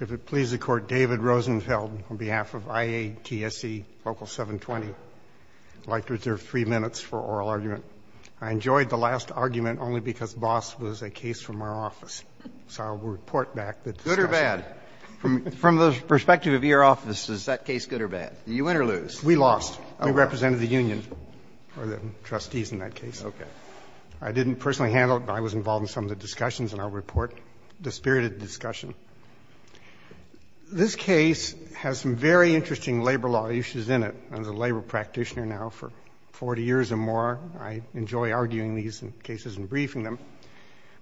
If it pleases the Court, David Rosenfeld, on behalf of IATSE LOCAL 720, I would like to reserve three minutes for oral argument. I enjoyed the last argument only because boss was a case from our office. So I will report back. Good or bad? From the perspective of your office, is that case good or bad? Did you win or lose? We lost. We represented the union, or the trustees in that case. Okay. I didn't personally handle it, but I was involved in some of the discussions in our report, the spirited discussion. This case has some very interesting labor law issues in it. I'm a labor practitioner now for 40 years or more. I enjoy arguing these cases and briefing them.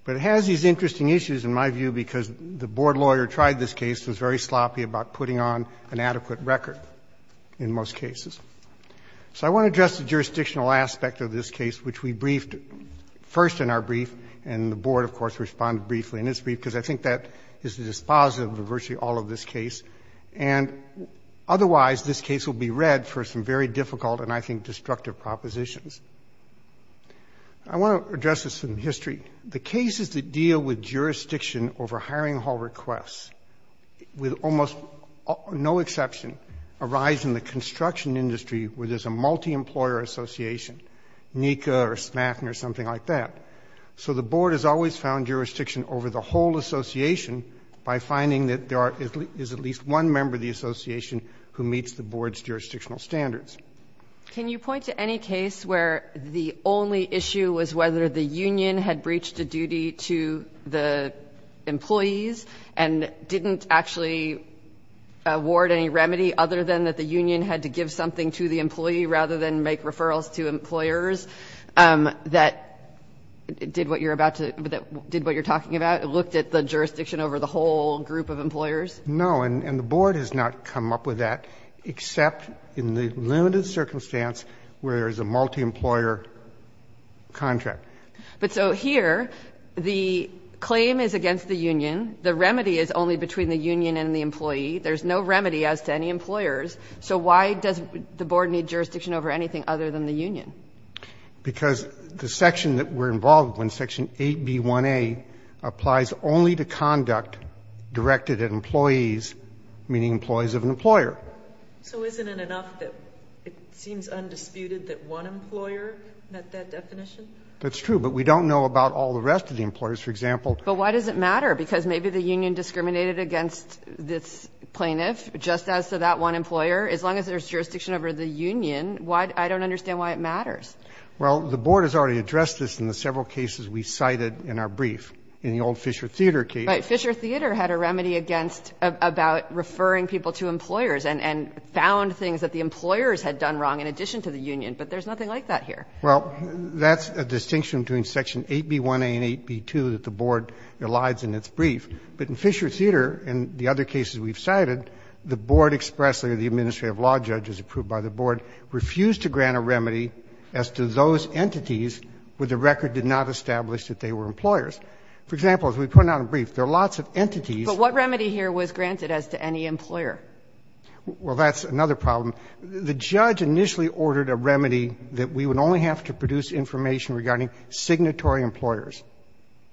But it has these interesting issues, in my view, because the board lawyer tried this case and was very sloppy about putting on an adequate record in most cases. So I want to address the jurisdictional aspect of this case, which we briefed first in our brief, because I think that is the dispositive of virtually all of this case. And otherwise, this case will be read for some very difficult and, I think, destructive propositions. I want to address this from history. The cases that deal with jurisdiction over hiring hall requests, with almost no exception, arise in the construction industry where there's a multi-employer association, NECA or SMAFN or something like that. So the board has always found jurisdiction over the whole association by finding that there is at least one member of the association who meets the board's jurisdictional standards. Can you point to any case where the only issue was whether the union had breached a duty to the employees and didn't actually award any remedy other than that the union had to give something to the employee rather than make referrals to employers that did what you're talking about, looked at the jurisdiction over the whole group of employers? No. And the board has not come up with that, except in the limited circumstance where there is a multi-employer contract. But so here, the claim is against the union. The remedy is only between the union and the employee. There's no remedy as to any employers. So why does the board need jurisdiction over anything other than the union? Because the section that we're involved with, Section 8B1A, applies only to conduct directed at employees, meaning employees of an employer. So isn't it enough that it seems undisputed that one employer met that definition? That's true, but we don't know about all the rest of the employers, for example. But why does it matter? Because maybe the union discriminated against this plaintiff just as to that one employer. As long as there's jurisdiction over the union, why does it matter? I don't understand why it matters. Well, the board has already addressed this in the several cases we cited in our brief. In the old Fisher Theater case. Right. Fisher Theater had a remedy against, about referring people to employers and found things that the employers had done wrong in addition to the union. But there's nothing like that here. Well, that's a distinction between Section 8B1A and 8B2 that the board elides in its brief. But in Fisher Theater, and the other cases we've cited, the board expressly, the administrative law judge, as approved by the board, refused to grant a remedy as to those entities where the record did not establish that they were employers. For example, as we put out in the brief, there are lots of entities. But what remedy here was granted as to any employer? Well, that's another problem. The judge initially ordered a remedy that we would only have to produce information regarding signatory employers.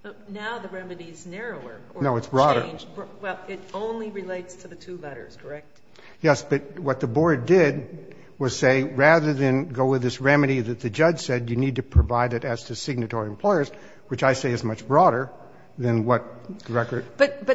But now the remedy is narrower or exchanged. No, it's broader. Well, it only relates to the two letters, correct? Yes. But what the board did was say, rather than go with this remedy that the judge said you need to provide it as to signatory employers, which I say is much broader than what the record. But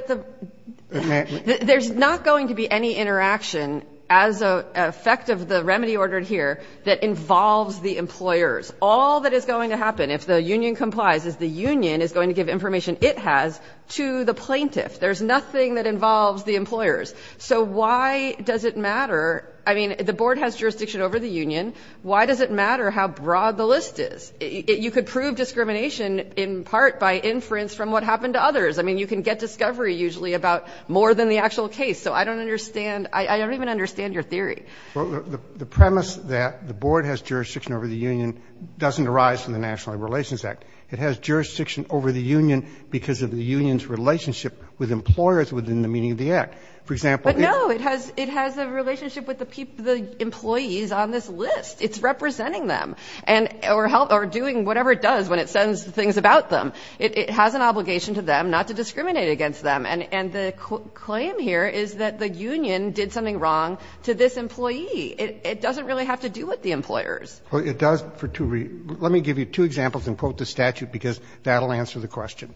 there's not going to be any interaction as a effect of the remedy ordered here that involves the employers. All that is going to happen, if the union complies, is the union is going to give information it has to the plaintiff. There's nothing that involves the employers. So why does it matter? I mean, the board has jurisdiction over the union. Why does it matter how broad the list is? You could prove discrimination in part by inference from what happened to others. I mean, you can get discovery usually about more than the actual case. So I don't understand. I don't even understand your theory. Well, the premise that the board has jurisdiction over the union doesn't arise from the National Labor Relations Act. It has jurisdiction over the union because of the union's relationship with employers within the meaning of the act. For example, it has a relationship with the employees on this list. It's representing them or doing whatever it does when it sends things about them. It has an obligation to them not to discriminate against them. And the claim here is that the union did something wrong to this employee. It doesn't really have to do with the employers. Well, it does for two reasons. Let me give you two examples and quote the statute, because that will answer the question.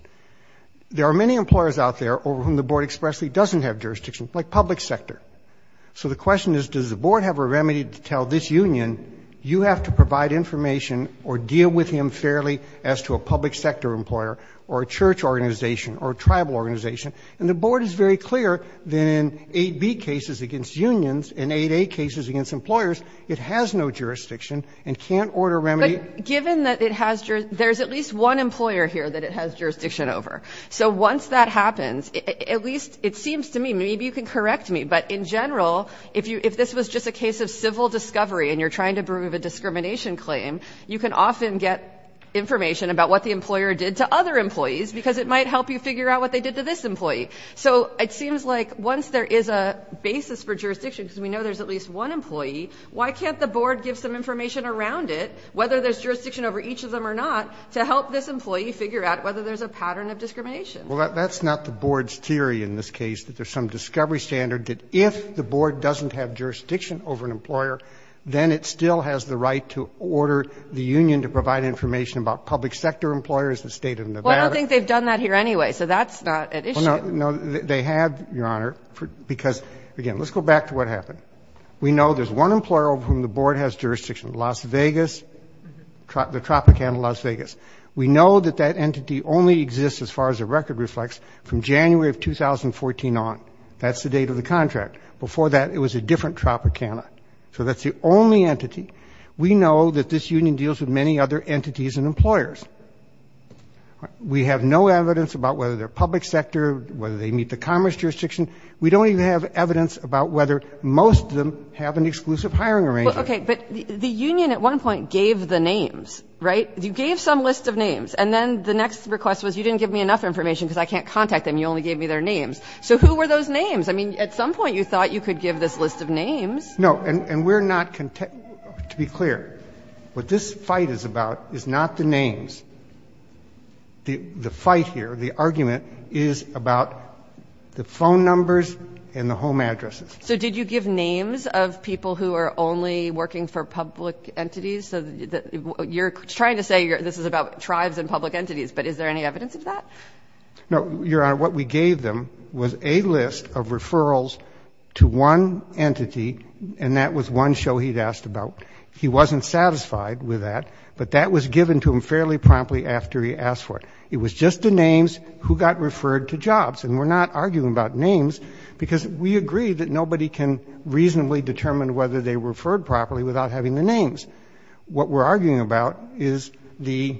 There are many employers out there over whom the board expressly doesn't have jurisdiction, like public sector. So the question is, does the board have a remedy to tell this union, you have to provide information or deal with him fairly as to a public sector employer or a church organization or a tribal organization? And the board is very clear that in 8b cases against unions and 8a cases against employers, it has no jurisdiction and can't order remedy. Given that it has, there's at least one employer here that it has jurisdiction over. So once that happens, at least it seems to me, maybe you can correct me, but in general, if this was just a case of civil discovery and you're trying to prove a discrimination claim, you can often get information about what the employer did to other employees because it might help you figure out what they did to this employee. So it seems like once there is a basis for jurisdiction, because we know there's at least one employee, why can't the board give some information around it, whether there's jurisdiction over each of them or not, to help this employee figure out whether there's a pattern of discrimination? Well, that's not the board's theory in this case, that there's some discovery standard that if the board doesn't have jurisdiction over an employer, then it still has the right to order the union to provide information about public sector employers, the state of Nevada. Well, I don't think they've done that here anyway. So that's not an issue. No, they have, Your Honor, because again, let's go back to what happened. We know there's one employer of whom the board has jurisdiction, Las Vegas. The Tropicana Las Vegas. We know that that entity only exists, as far as the record reflects, from January of 2014 on. That's the date of the contract. Before that, it was a different Tropicana. So that's the only entity. We know that this union deals with many other entities and employers. We have no evidence about whether they're public sector, whether they meet the commerce jurisdiction. We don't even have evidence about whether most of them have an exclusive hiring arrangement. Well, okay, but the union at one point gave the names, right? You gave some list of names, and then the next request was you didn't give me enough information because I can't contact them. You only gave me their names. So who were those names? I mean, at some point, you thought you could give this list of names. No, and we're not, to be clear, what this fight is about is not the names. The fight here, the argument, is about the phone numbers and the home addresses. So did you give names of people who are only working for public entities? So you're trying to say this is about tribes and public entities, but is there any evidence of that? No, Your Honor, what we gave them was a list of referrals to one entity, and that was one show he'd asked about. He wasn't satisfied with that, but that was given to him fairly promptly after he asked for it. It was just the names who got referred to jobs. And we're not arguing about names because we agree that nobody can reasonably determine whether they were referred properly without having the names. What we're arguing about is the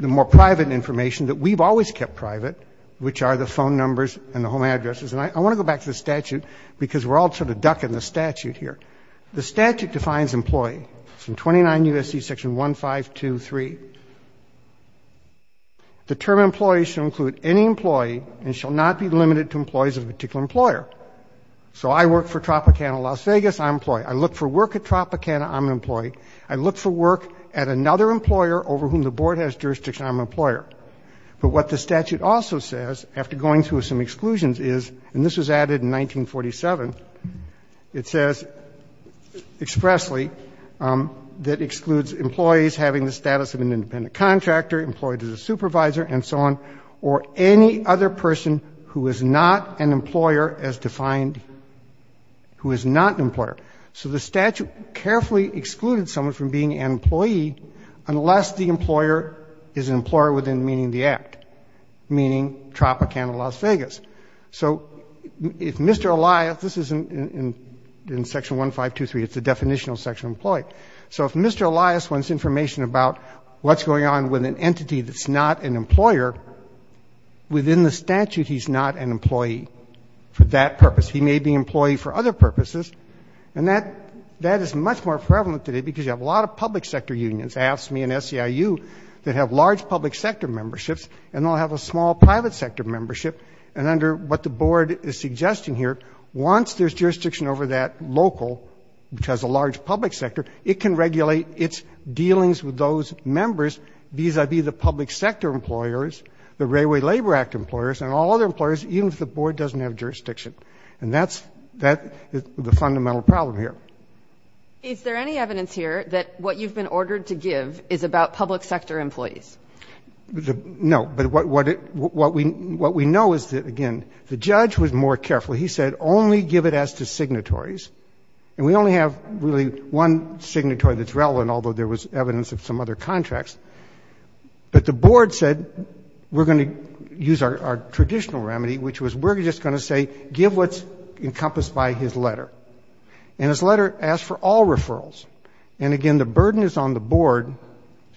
more private information that we've always kept private, which are the phone numbers and the home addresses. And I want to go back to the statute because we're all sort of ducking the statute here. The statute defines employee from 29 U.S.C. section 1523. The term employee shall include any employee and shall not be limited to employees of a particular employer. So I work for Tropicana Las Vegas, I'm an employee. I look for work at Tropicana, I'm an employee. I look for work at another employer over whom the board has jurisdiction, I'm an employer. But what the statute also says, after going through some exclusions is, and this was added in 1947, of an independent contractor employed as a supervisor and so on. Or any other person who is not an employer as defined, who is not an employer. So the statute carefully excluded someone from being an employee unless the employer is an employer within the meaning of the act, meaning Tropicana Las Vegas. So if Mr. Elias, this is in section 1523, it's a definitional section of employee. So if Mr. Elias wants information about what's going on with an entity that's not an employer, within the statute he's not an employee for that purpose. He may be an employee for other purposes. And that is much more prevalent today because you have a lot of public sector unions, AFSCME and SEIU, that have large public sector memberships and they'll have a small private sector membership. And under what the board is suggesting here, once there's jurisdiction over that local, which has a large public sector, it can regulate its dealings with those members vis-a-vis the public sector employers, the Railway Labor Act employers, and all other employers, even if the board doesn't have jurisdiction. And that's the fundamental problem here. Is there any evidence here that what you've been ordered to give is about public sector employees? No, but what we know is that, again, the judge was more careful. He said, only give it as to signatories. And we only have really one signatory that's relevant, although there was evidence of some other contracts. But the board said, we're going to use our traditional remedy, which was we're just going to say, give what's encompassed by his letter. And his letter asked for all referrals. And again, the burden is on the board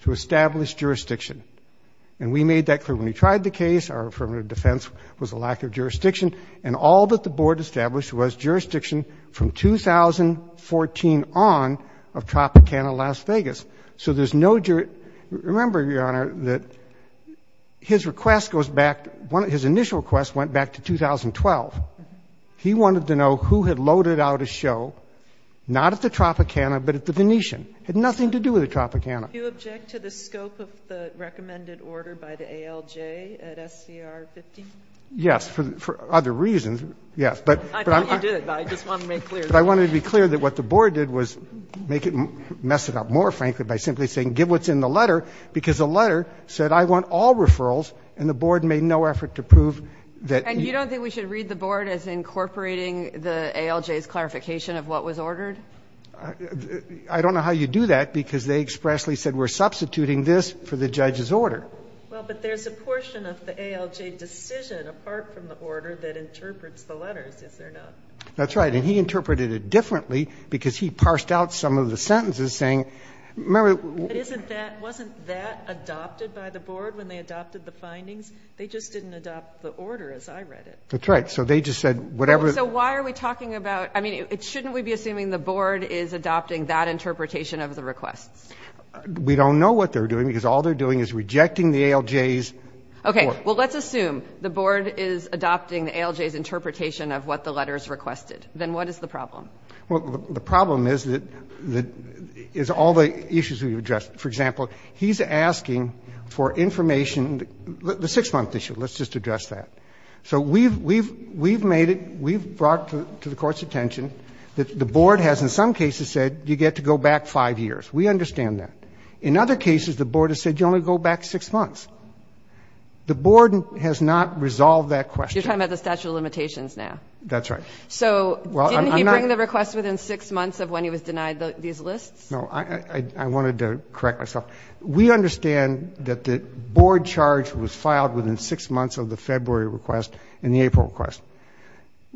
to establish jurisdiction. And we made that clear when we tried the case, our affirmative defense was a lack of jurisdiction. And all that the board established was jurisdiction from 2014 on of Tropicana Las Vegas. So there's no, remember, Your Honor, that his request goes back, his initial request went back to 2012. He wanted to know who had loaded out a show, not at the Tropicana, but at the Venetian. Had nothing to do with the Tropicana. Do you object to the scope of the recommended order by the ALJ at SCR 15? Yes, for other reasons. Yes, but- I thought you did, but I just wanted to make clear. But I wanted to be clear that what the board did was mess it up more, frankly, by simply saying, give what's in the letter. Because the letter said, I want all referrals, and the board made no effort to prove that- And you don't think we should read the board as incorporating the ALJ's clarification of what was ordered? I don't know how you do that, because they expressly said, we're substituting this for the judge's order. Well, but there's a portion of the ALJ decision, apart from the order, that interprets the letters, is there not? That's right, and he interpreted it differently, because he parsed out some of the sentences saying, remember- But isn't that, wasn't that adopted by the board when they adopted the findings? They just didn't adopt the order as I read it. That's right, so they just said, whatever- So why are we talking about, I mean, shouldn't we be assuming the board is adopting that interpretation of the requests? We don't know what they're doing, because all they're doing is rejecting the ALJ's- Okay, well let's assume the board is adopting the ALJ's interpretation of what the letters requested. Then what is the problem? Well, the problem is that, is all the issues we've addressed. For example, he's asking for information, the six month issue, let's just address that. So we've made it, we've brought it to the court's attention, that the board has in some cases said, you get to go back five years. We understand that. In other cases, the board has said, you only go back six months. The board has not resolved that question. You're talking about the statute of limitations now. That's right. So, didn't he bring the request within six months of when he was denied these lists? No, I wanted to correct myself. We understand that the board charge was filed within six months of the February request and the April request.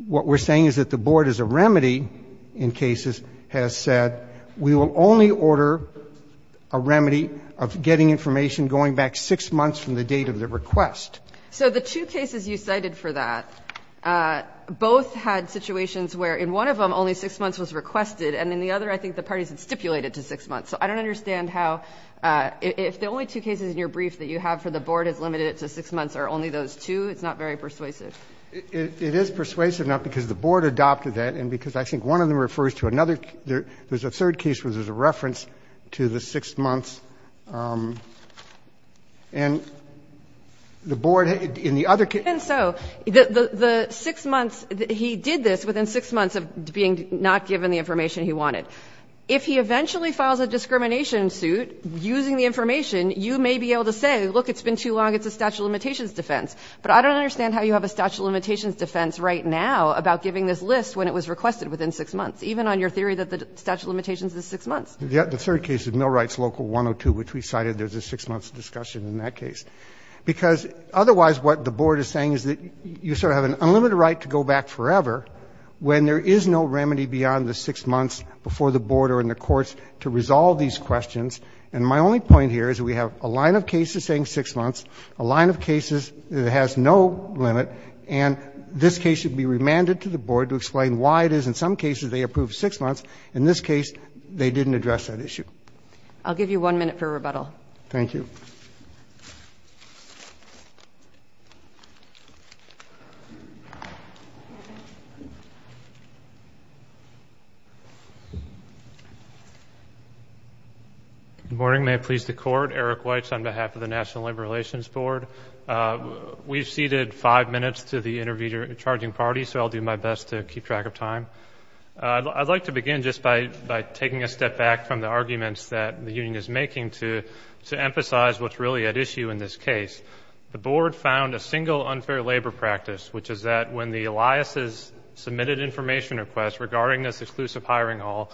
What we're saying is that the board as a remedy in cases has said, we will only order a remedy of getting information going back six months from the date of the request. So the two cases you cited for that, both had situations where in one of them, only six months was requested. And in the other, I think the parties had stipulated to six months. So I don't understand how, if the only two cases in your brief that you have for the board has limited it to six months are only those two, it's not very persuasive. It is persuasive, not because the board adopted that, and because I think one of them refers to another. There's a third case where there's a reference to the six months, and the board, in the other case- Even so, the six months, he did this within six months of being not given the information he wanted. If he eventually files a discrimination suit using the information, you may be able to say, look, it's been too long, it's a statute of limitations defense. But I don't understand how you have a statute of limitations defense right now about giving this list when it was requested within six months, even on your theory that the statute of limitations is six months. Yeah, the third case is Millwright's Local 102, which we cited, there's a six month discussion in that case. Because otherwise, what the board is saying is that you sort of have an unlimited right to go back forever when there is no remedy beyond the six months before the board or in the courts to resolve these questions. And my only point here is that we have a line of cases saying six months, a line of cases that has no limit, and this case should be remanded to the board to explain why it is in some cases they approve six months. In this case, they didn't address that issue. I'll give you one minute for rebuttal. Thank you. Good morning, may it please the court. Eric Weitz on behalf of the National Labor Relations Board. We've seated five minutes to the interviewer in charging parties, so I'll do my best to keep track of time. I'd like to begin just by taking a step back from the arguments that the union is making to emphasize what's really at issue in this case. The board found a single unfair labor practice, which is that when the Eliases submitted information requests regarding this exclusive hiring hall,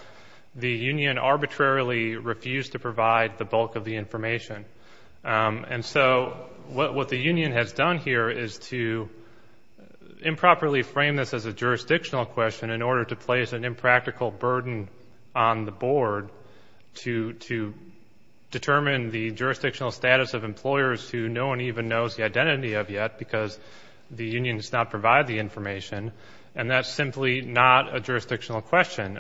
the union arbitrarily refused to provide the bulk of the information. And so what the union has done here is to improperly frame this as a jurisdictional question in order to place an impractical burden on the board to determine the jurisdictional status of employers who no one even knows the identity of yet, because the union does not provide the information, and that's simply not a jurisdictional question.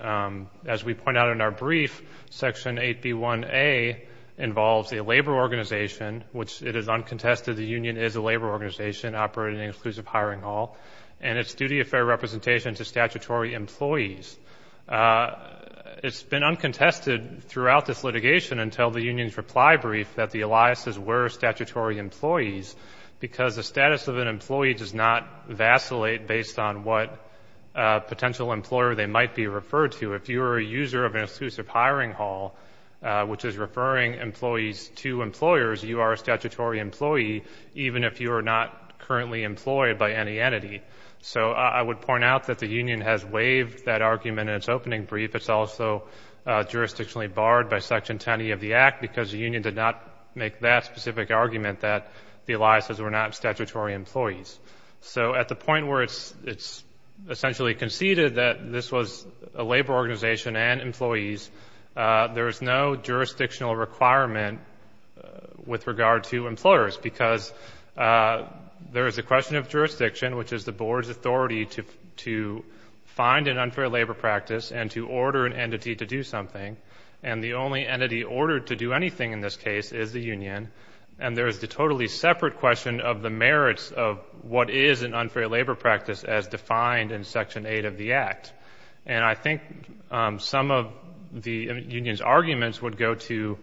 As we point out in our brief, section 8B1A involves a labor organization, which it is uncontested the union is a labor organization operating an exclusive hiring hall. And it's duty of fair representation to statutory employees. It's been uncontested throughout this litigation until the union's reply brief that the Eliases were statutory employees, because the status of an employee does not vacillate based on what potential employer they might be referred to. If you are a user of an exclusive hiring hall, which is referring employees to employers, you are a statutory employee, even if you are not currently employed by any entity. So I would point out that the union has waived that argument in its opening brief. It's also jurisdictionally barred by section 10E of the act, because the union did not make that specific argument that the Eliases were not statutory employees. So at the point where it's essentially conceded that this was a labor organization and employees, there is no jurisdictional requirement with regard to employers. Because there is a question of jurisdiction, which is the board's authority to find an unfair labor practice and to order an entity to do something. And the only entity ordered to do anything in this case is the union. And there is the totally separate question of the merits of what is an unfair labor practice as defined in section 8 of the act. And I think some of the union's arguments would go to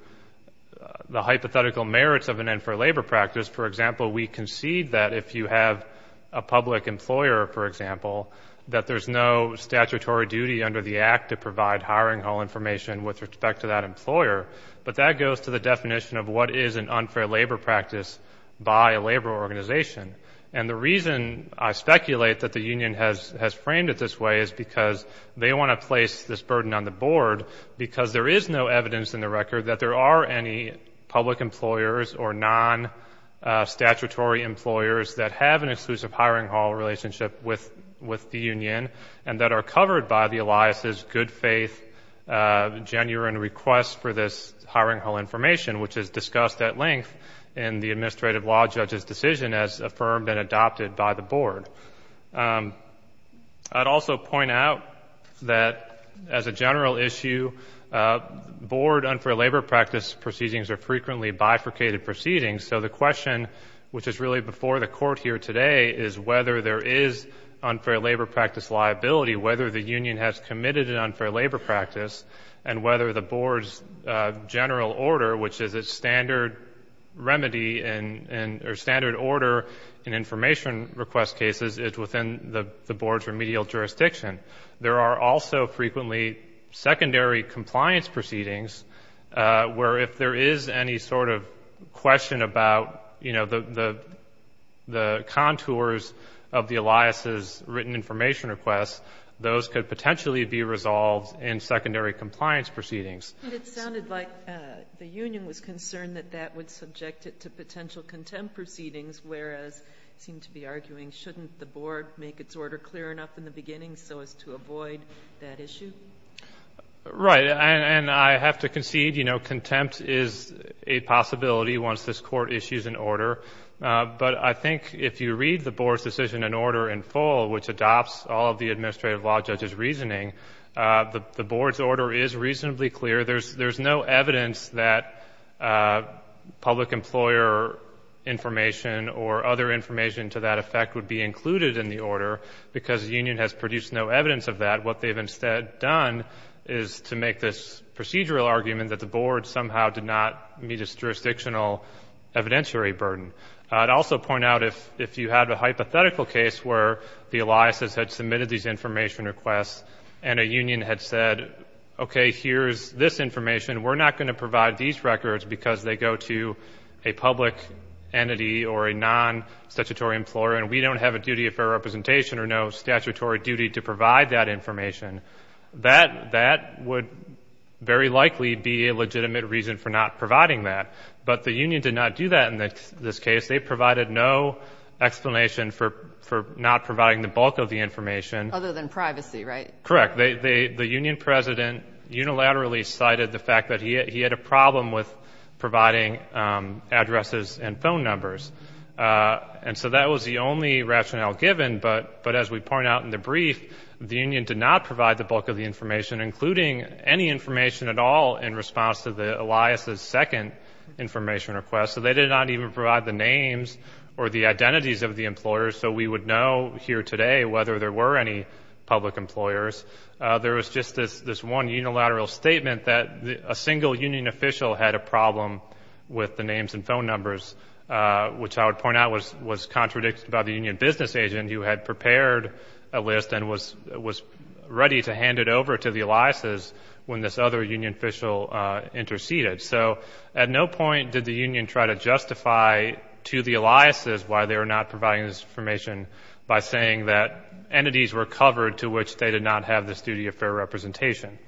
the hypothetical merits of an unfair labor practice. For example, we concede that if you have a public employer, for example, that there's no statutory duty under the act to provide hiring hall information with respect to that employer. But that goes to the definition of what is an unfair labor practice by a labor organization. And the reason I speculate that the union has framed it this way is because they want to place this burden on the board. Because there is no evidence in the record that there are any public employers or non-statutory employers that have an exclusive hiring hall relationship with the union. And that are covered by the Elias's good faith, genuine request for this hiring hall information. Which is discussed at length in the administrative law judge's decision as affirmed and adopted by the board. I'd also point out that as a general issue, board unfair labor practice proceedings are frequently bifurcated proceedings. So the question, which is really before the court here today, is whether there is unfair labor practice liability. Whether the union has committed an unfair labor practice. And whether the board's general order, which is a standard remedy or standard order in information request cases is within the board's remedial jurisdiction. There are also frequently secondary compliance proceedings where if there is any sort of question about the contours of the Elias's written information requests. Those could potentially be resolved in secondary compliance proceedings. It sounded like the union was concerned that that would subject it to potential contempt proceedings. Whereas, it seemed to be arguing, shouldn't the board make its order clear enough in the beginning so as to avoid that issue? Right, and I have to concede, contempt is a possibility once this court issues an order. But I think if you read the board's decision in order in full, which adopts all of the administrative law judge's reasoning. The board's order is reasonably clear. There's no evidence that public employer information or other information to that effect would be included in the order because the union has produced no evidence of that. What they've instead done is to make this procedural argument that the board somehow did not meet its jurisdictional evidentiary burden. I'd also point out if you had a hypothetical case where the Elias's had submitted these information requests. And a union had said, okay, here's this information. We're not going to provide these records because they go to a public entity or a non-statutory employer. And we don't have a duty of fair representation or no statutory duty to provide that information. That would very likely be a legitimate reason for not providing that. But the union did not do that in this case. They provided no explanation for not providing the bulk of the information. Other than privacy, right? Correct. The union president unilaterally cited the fact that he had a problem with providing addresses and phone numbers. And so that was the only rationale given. But as we point out in the brief, the union did not provide the bulk of the information, including any information at all in response to the Elias's second information request. So they did not even provide the names or the identities of the employers. So we would know here today whether there were any public employers. There was just this one unilateral statement that a single union official had a problem with the names and phone numbers. Which I would point out was contradicted by the union business agent who had prepared a list and was ready to hand it over to the Elias's when this other union official interceded. So at no point did the union try to justify to the Elias's why they were not providing this information by saying that entities were covered to which they did not have this duty of fair representation.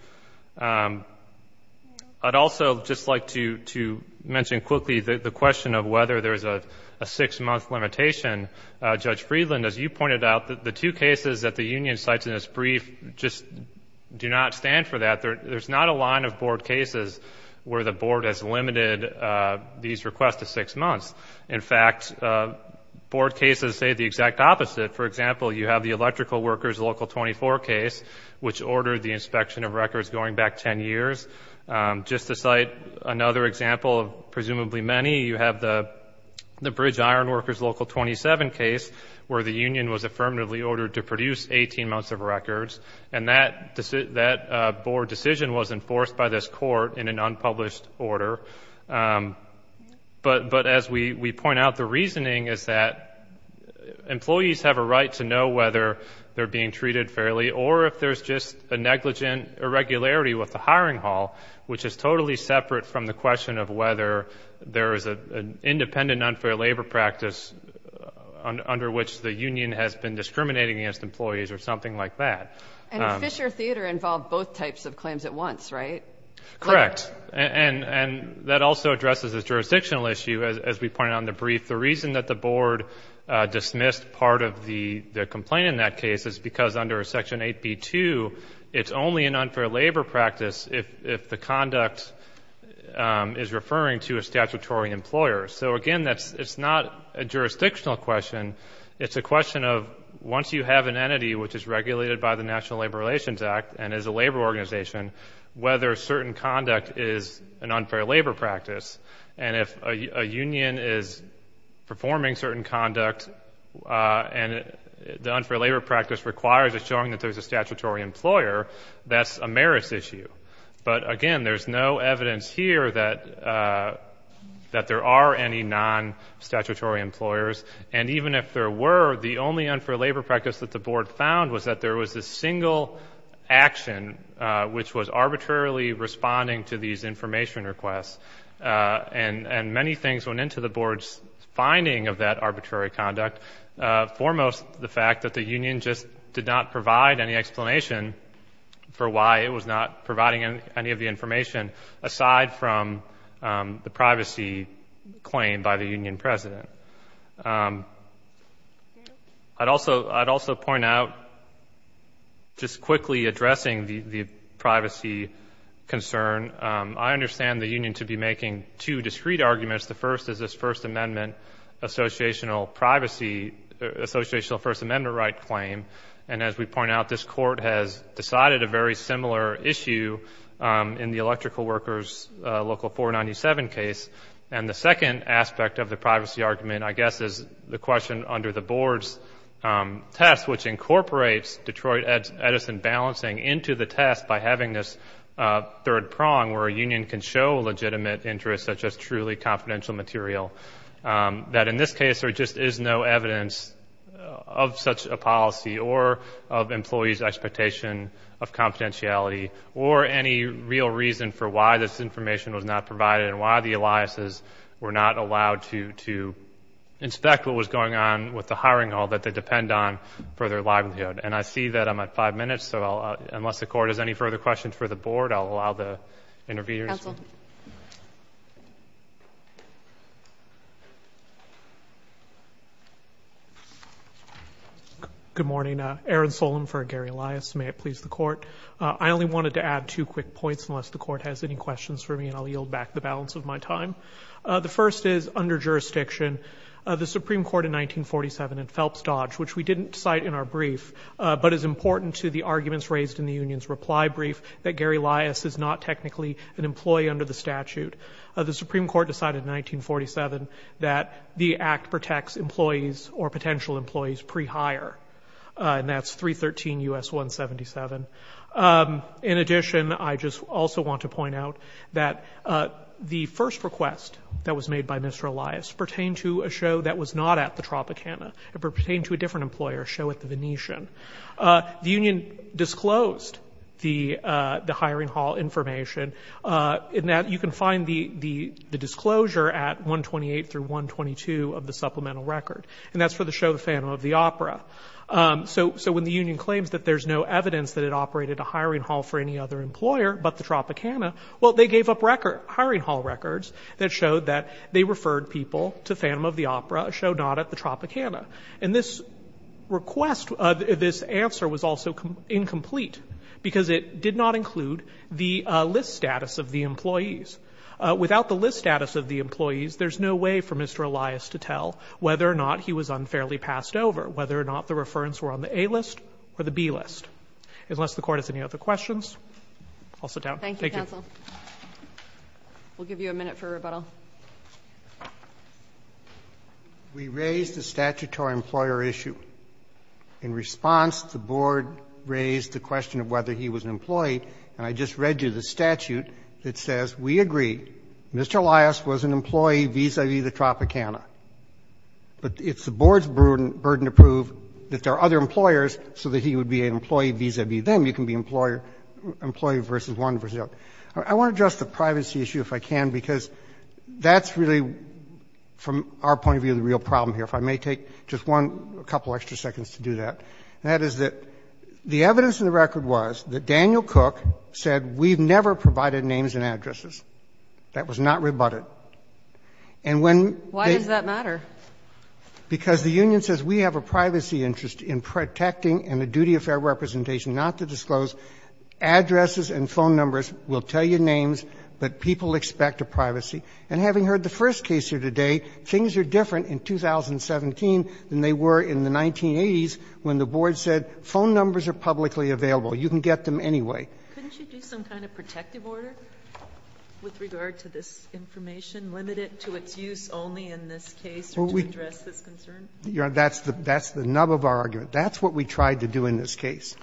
I'd also just like to mention quickly the question of whether there's a six month limitation. Judge Friedland, as you pointed out, the two cases that the union cites in this brief just do not stand for that. There's not a line of board cases where the board has limited these requests to six months. In fact, board cases say the exact opposite. For example, you have the electrical workers local 24 case, which ordered the inspection of records going back ten years. Just to cite another example of presumably many, you have the bridge iron workers local 27 case, where the union was affirmatively ordered to produce 18 months of records. And that board decision was enforced by this court in an unpublished order. But as we point out, the reasoning is that employees have a right to know whether they're being treated fairly, or if there's just a negligent irregularity with the hiring hall, which is totally separate from the question of whether there is an independent unfair labor practice under which the union has been discriminating against employees or something like that. And Fisher Theater involved both types of claims at once, right? Correct, and that also addresses a jurisdictional issue, as we pointed out in the brief. The reason that the board dismissed part of the complaint in that case is because under section 8B2, it's only an unfair labor practice if the conduct is referring to a statutory employer. So again, it's not a jurisdictional question. It's a question of, once you have an entity which is regulated by the National Labor Relations Act and is a labor organization, whether certain conduct is an unfair labor practice. And if a union is performing certain conduct and the unfair labor practice requires assuring that there's a statutory employer, that's a merits issue. But again, there's no evidence here that there are any non-statutory employers. And even if there were, the only unfair labor practice that the board found was that there was a single action which was arbitrarily responding to these information requests. And many things went into the board's finding of that arbitrary conduct. Foremost, the fact that the union just did not provide any explanation for why it was not providing any of the information aside from the privacy claimed by the union president. I'd also point out, just quickly addressing the privacy concern. I understand the union to be making two discreet arguments. The first is this First Amendment, associational privacy, associational First Amendment right claim. And as we point out, this court has decided a very similar issue in the electrical workers local 497 case. And the second aspect of the privacy argument, I guess, is the question under the board's test, which incorporates Detroit Edison balancing into the test by having this illegitimate interest such as truly confidential material. That in this case, there just is no evidence of such a policy or of employees' expectation of confidentiality or any real reason for why this information was not provided and why the Eliases were not allowed to inspect what was going on with the hiring hall that they depend on for their livelihood. And I see that I'm at five minutes, so unless the court has any further questions for the board, I'll allow the interviewers. Thank you, counsel. Good morning, Aaron Solem for Gary Elias, may it please the court. I only wanted to add two quick points, unless the court has any questions for me, and I'll yield back the balance of my time. The first is, under jurisdiction, the Supreme Court in 1947 in Phelps Dodge, which we didn't cite in our brief, but is important to the arguments raised in the union's reply brief, that Gary Elias is not technically an employee under the statute. The Supreme Court decided in 1947 that the act protects employees or potential employees pre-hire, and that's 313 U.S. 177. In addition, I just also want to point out that the first request that was made by Mr. Elias pertained to a show that was not at the Tropicana. It pertained to a different employer, a show at the Venetian. The union disclosed the hiring hall information, in that you can find the disclosure at 128 through 122 of the supplemental record. And that's for the show, The Phantom of the Opera. So when the union claims that there's no evidence that it operated a hiring hall for any other employer but the Tropicana, well, they gave up hiring hall records that showed that they referred people to Phantom of the Opera, a show not at the Tropicana. And this answer was also incomplete, because it did not include the list status of the employees. Without the list status of the employees, there's no way for Mr. Elias to tell whether or not he was unfairly passed over, whether or not the referents were on the A list or the B list. Unless the court has any other questions, I'll sit down. Thank you, counsel. We'll give you a minute for rebuttal. We raised the statutory employer issue. In response, the board raised the question of whether he was an employee. And I just read you the statute that says, we agree, Mr. Elias was an employee vis-a-vis the Tropicana. But it's the board's burden to prove that there are other employers so that he would be an employee vis-a-vis them. You can be employee versus one versus the other. I want to address the privacy issue if I can, because that's really, from our point of view, the real problem here. If I may take just one, a couple extra seconds to do that. That is that the evidence in the record was that Daniel Cook said we've never provided names and addresses. That was not rebutted. And when- Why does that matter? Because the union says we have a privacy interest in protecting and a duty of fair representation, not to disclose. Addresses and phone numbers will tell you names, but people expect a privacy. And having heard the first case here today, things are different in 2017 than they were in the 1980s when the board said phone numbers are publicly available. You can get them anyway. Couldn't you do some kind of protective order with regard to this information, limit it to its use only in this case or to address this concern? That's the nub of our argument. That's what we tried to do in this case.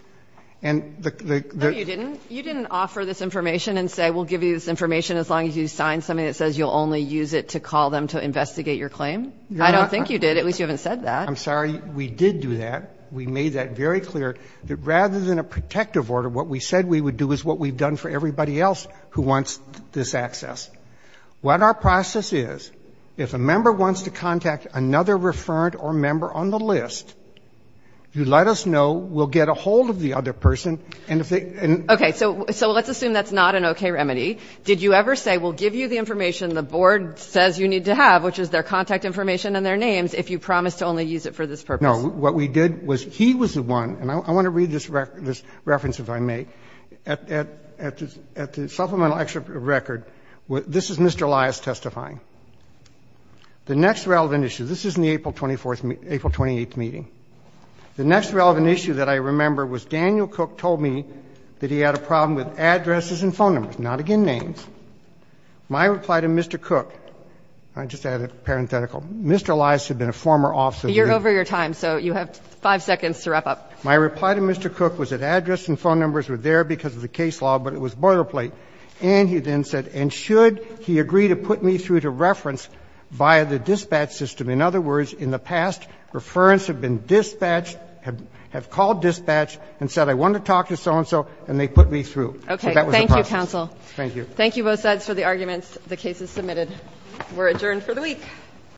And the- No, you didn't. You didn't offer this information and say we'll give you this information as long as you sign something that says you'll only use it to call them to investigate your claim. I don't think you did. At least you haven't said that. I'm sorry. We did do that. We made that very clear that rather than a protective order, what we said we would do is what we've done for everybody else who wants this access. What our process is, if a member wants to contact another referent or member on the list, you let us know, we'll get a hold of the other person, and if they- Okay. So let's assume that's not an okay remedy. Did you ever say we'll give you the information the board says you need to have, which is their contact information and their names, if you promise to only use it for this purpose? No. What we did was he was the one, and I want to read this reference, if I may, at the supplemental record. This is Mr. Elias testifying. The next relevant issue, this is in the April 24th, April 28th meeting. The next relevant issue that I remember was Daniel Cook told me that he had a problem with addresses and phone numbers, not again names. My reply to Mr. Cook, I just added a parenthetical, Mr. Elias had been a former officer- You're over your time, so you have five seconds to wrap up. My reply to Mr. Cook was that address and phone numbers were there because of the case law, but it was boilerplate. And he then said, and should he agree to put me through to reference via the dispatch system? In other words, in the past, referents have been dispatched, have called dispatch and said I want to talk to so-and-so, and they put me through. Okay. So that was the process. Thank you, counsel. Thank you. Thank you both sides for the arguments. The case is submitted. We're adjourned for the week.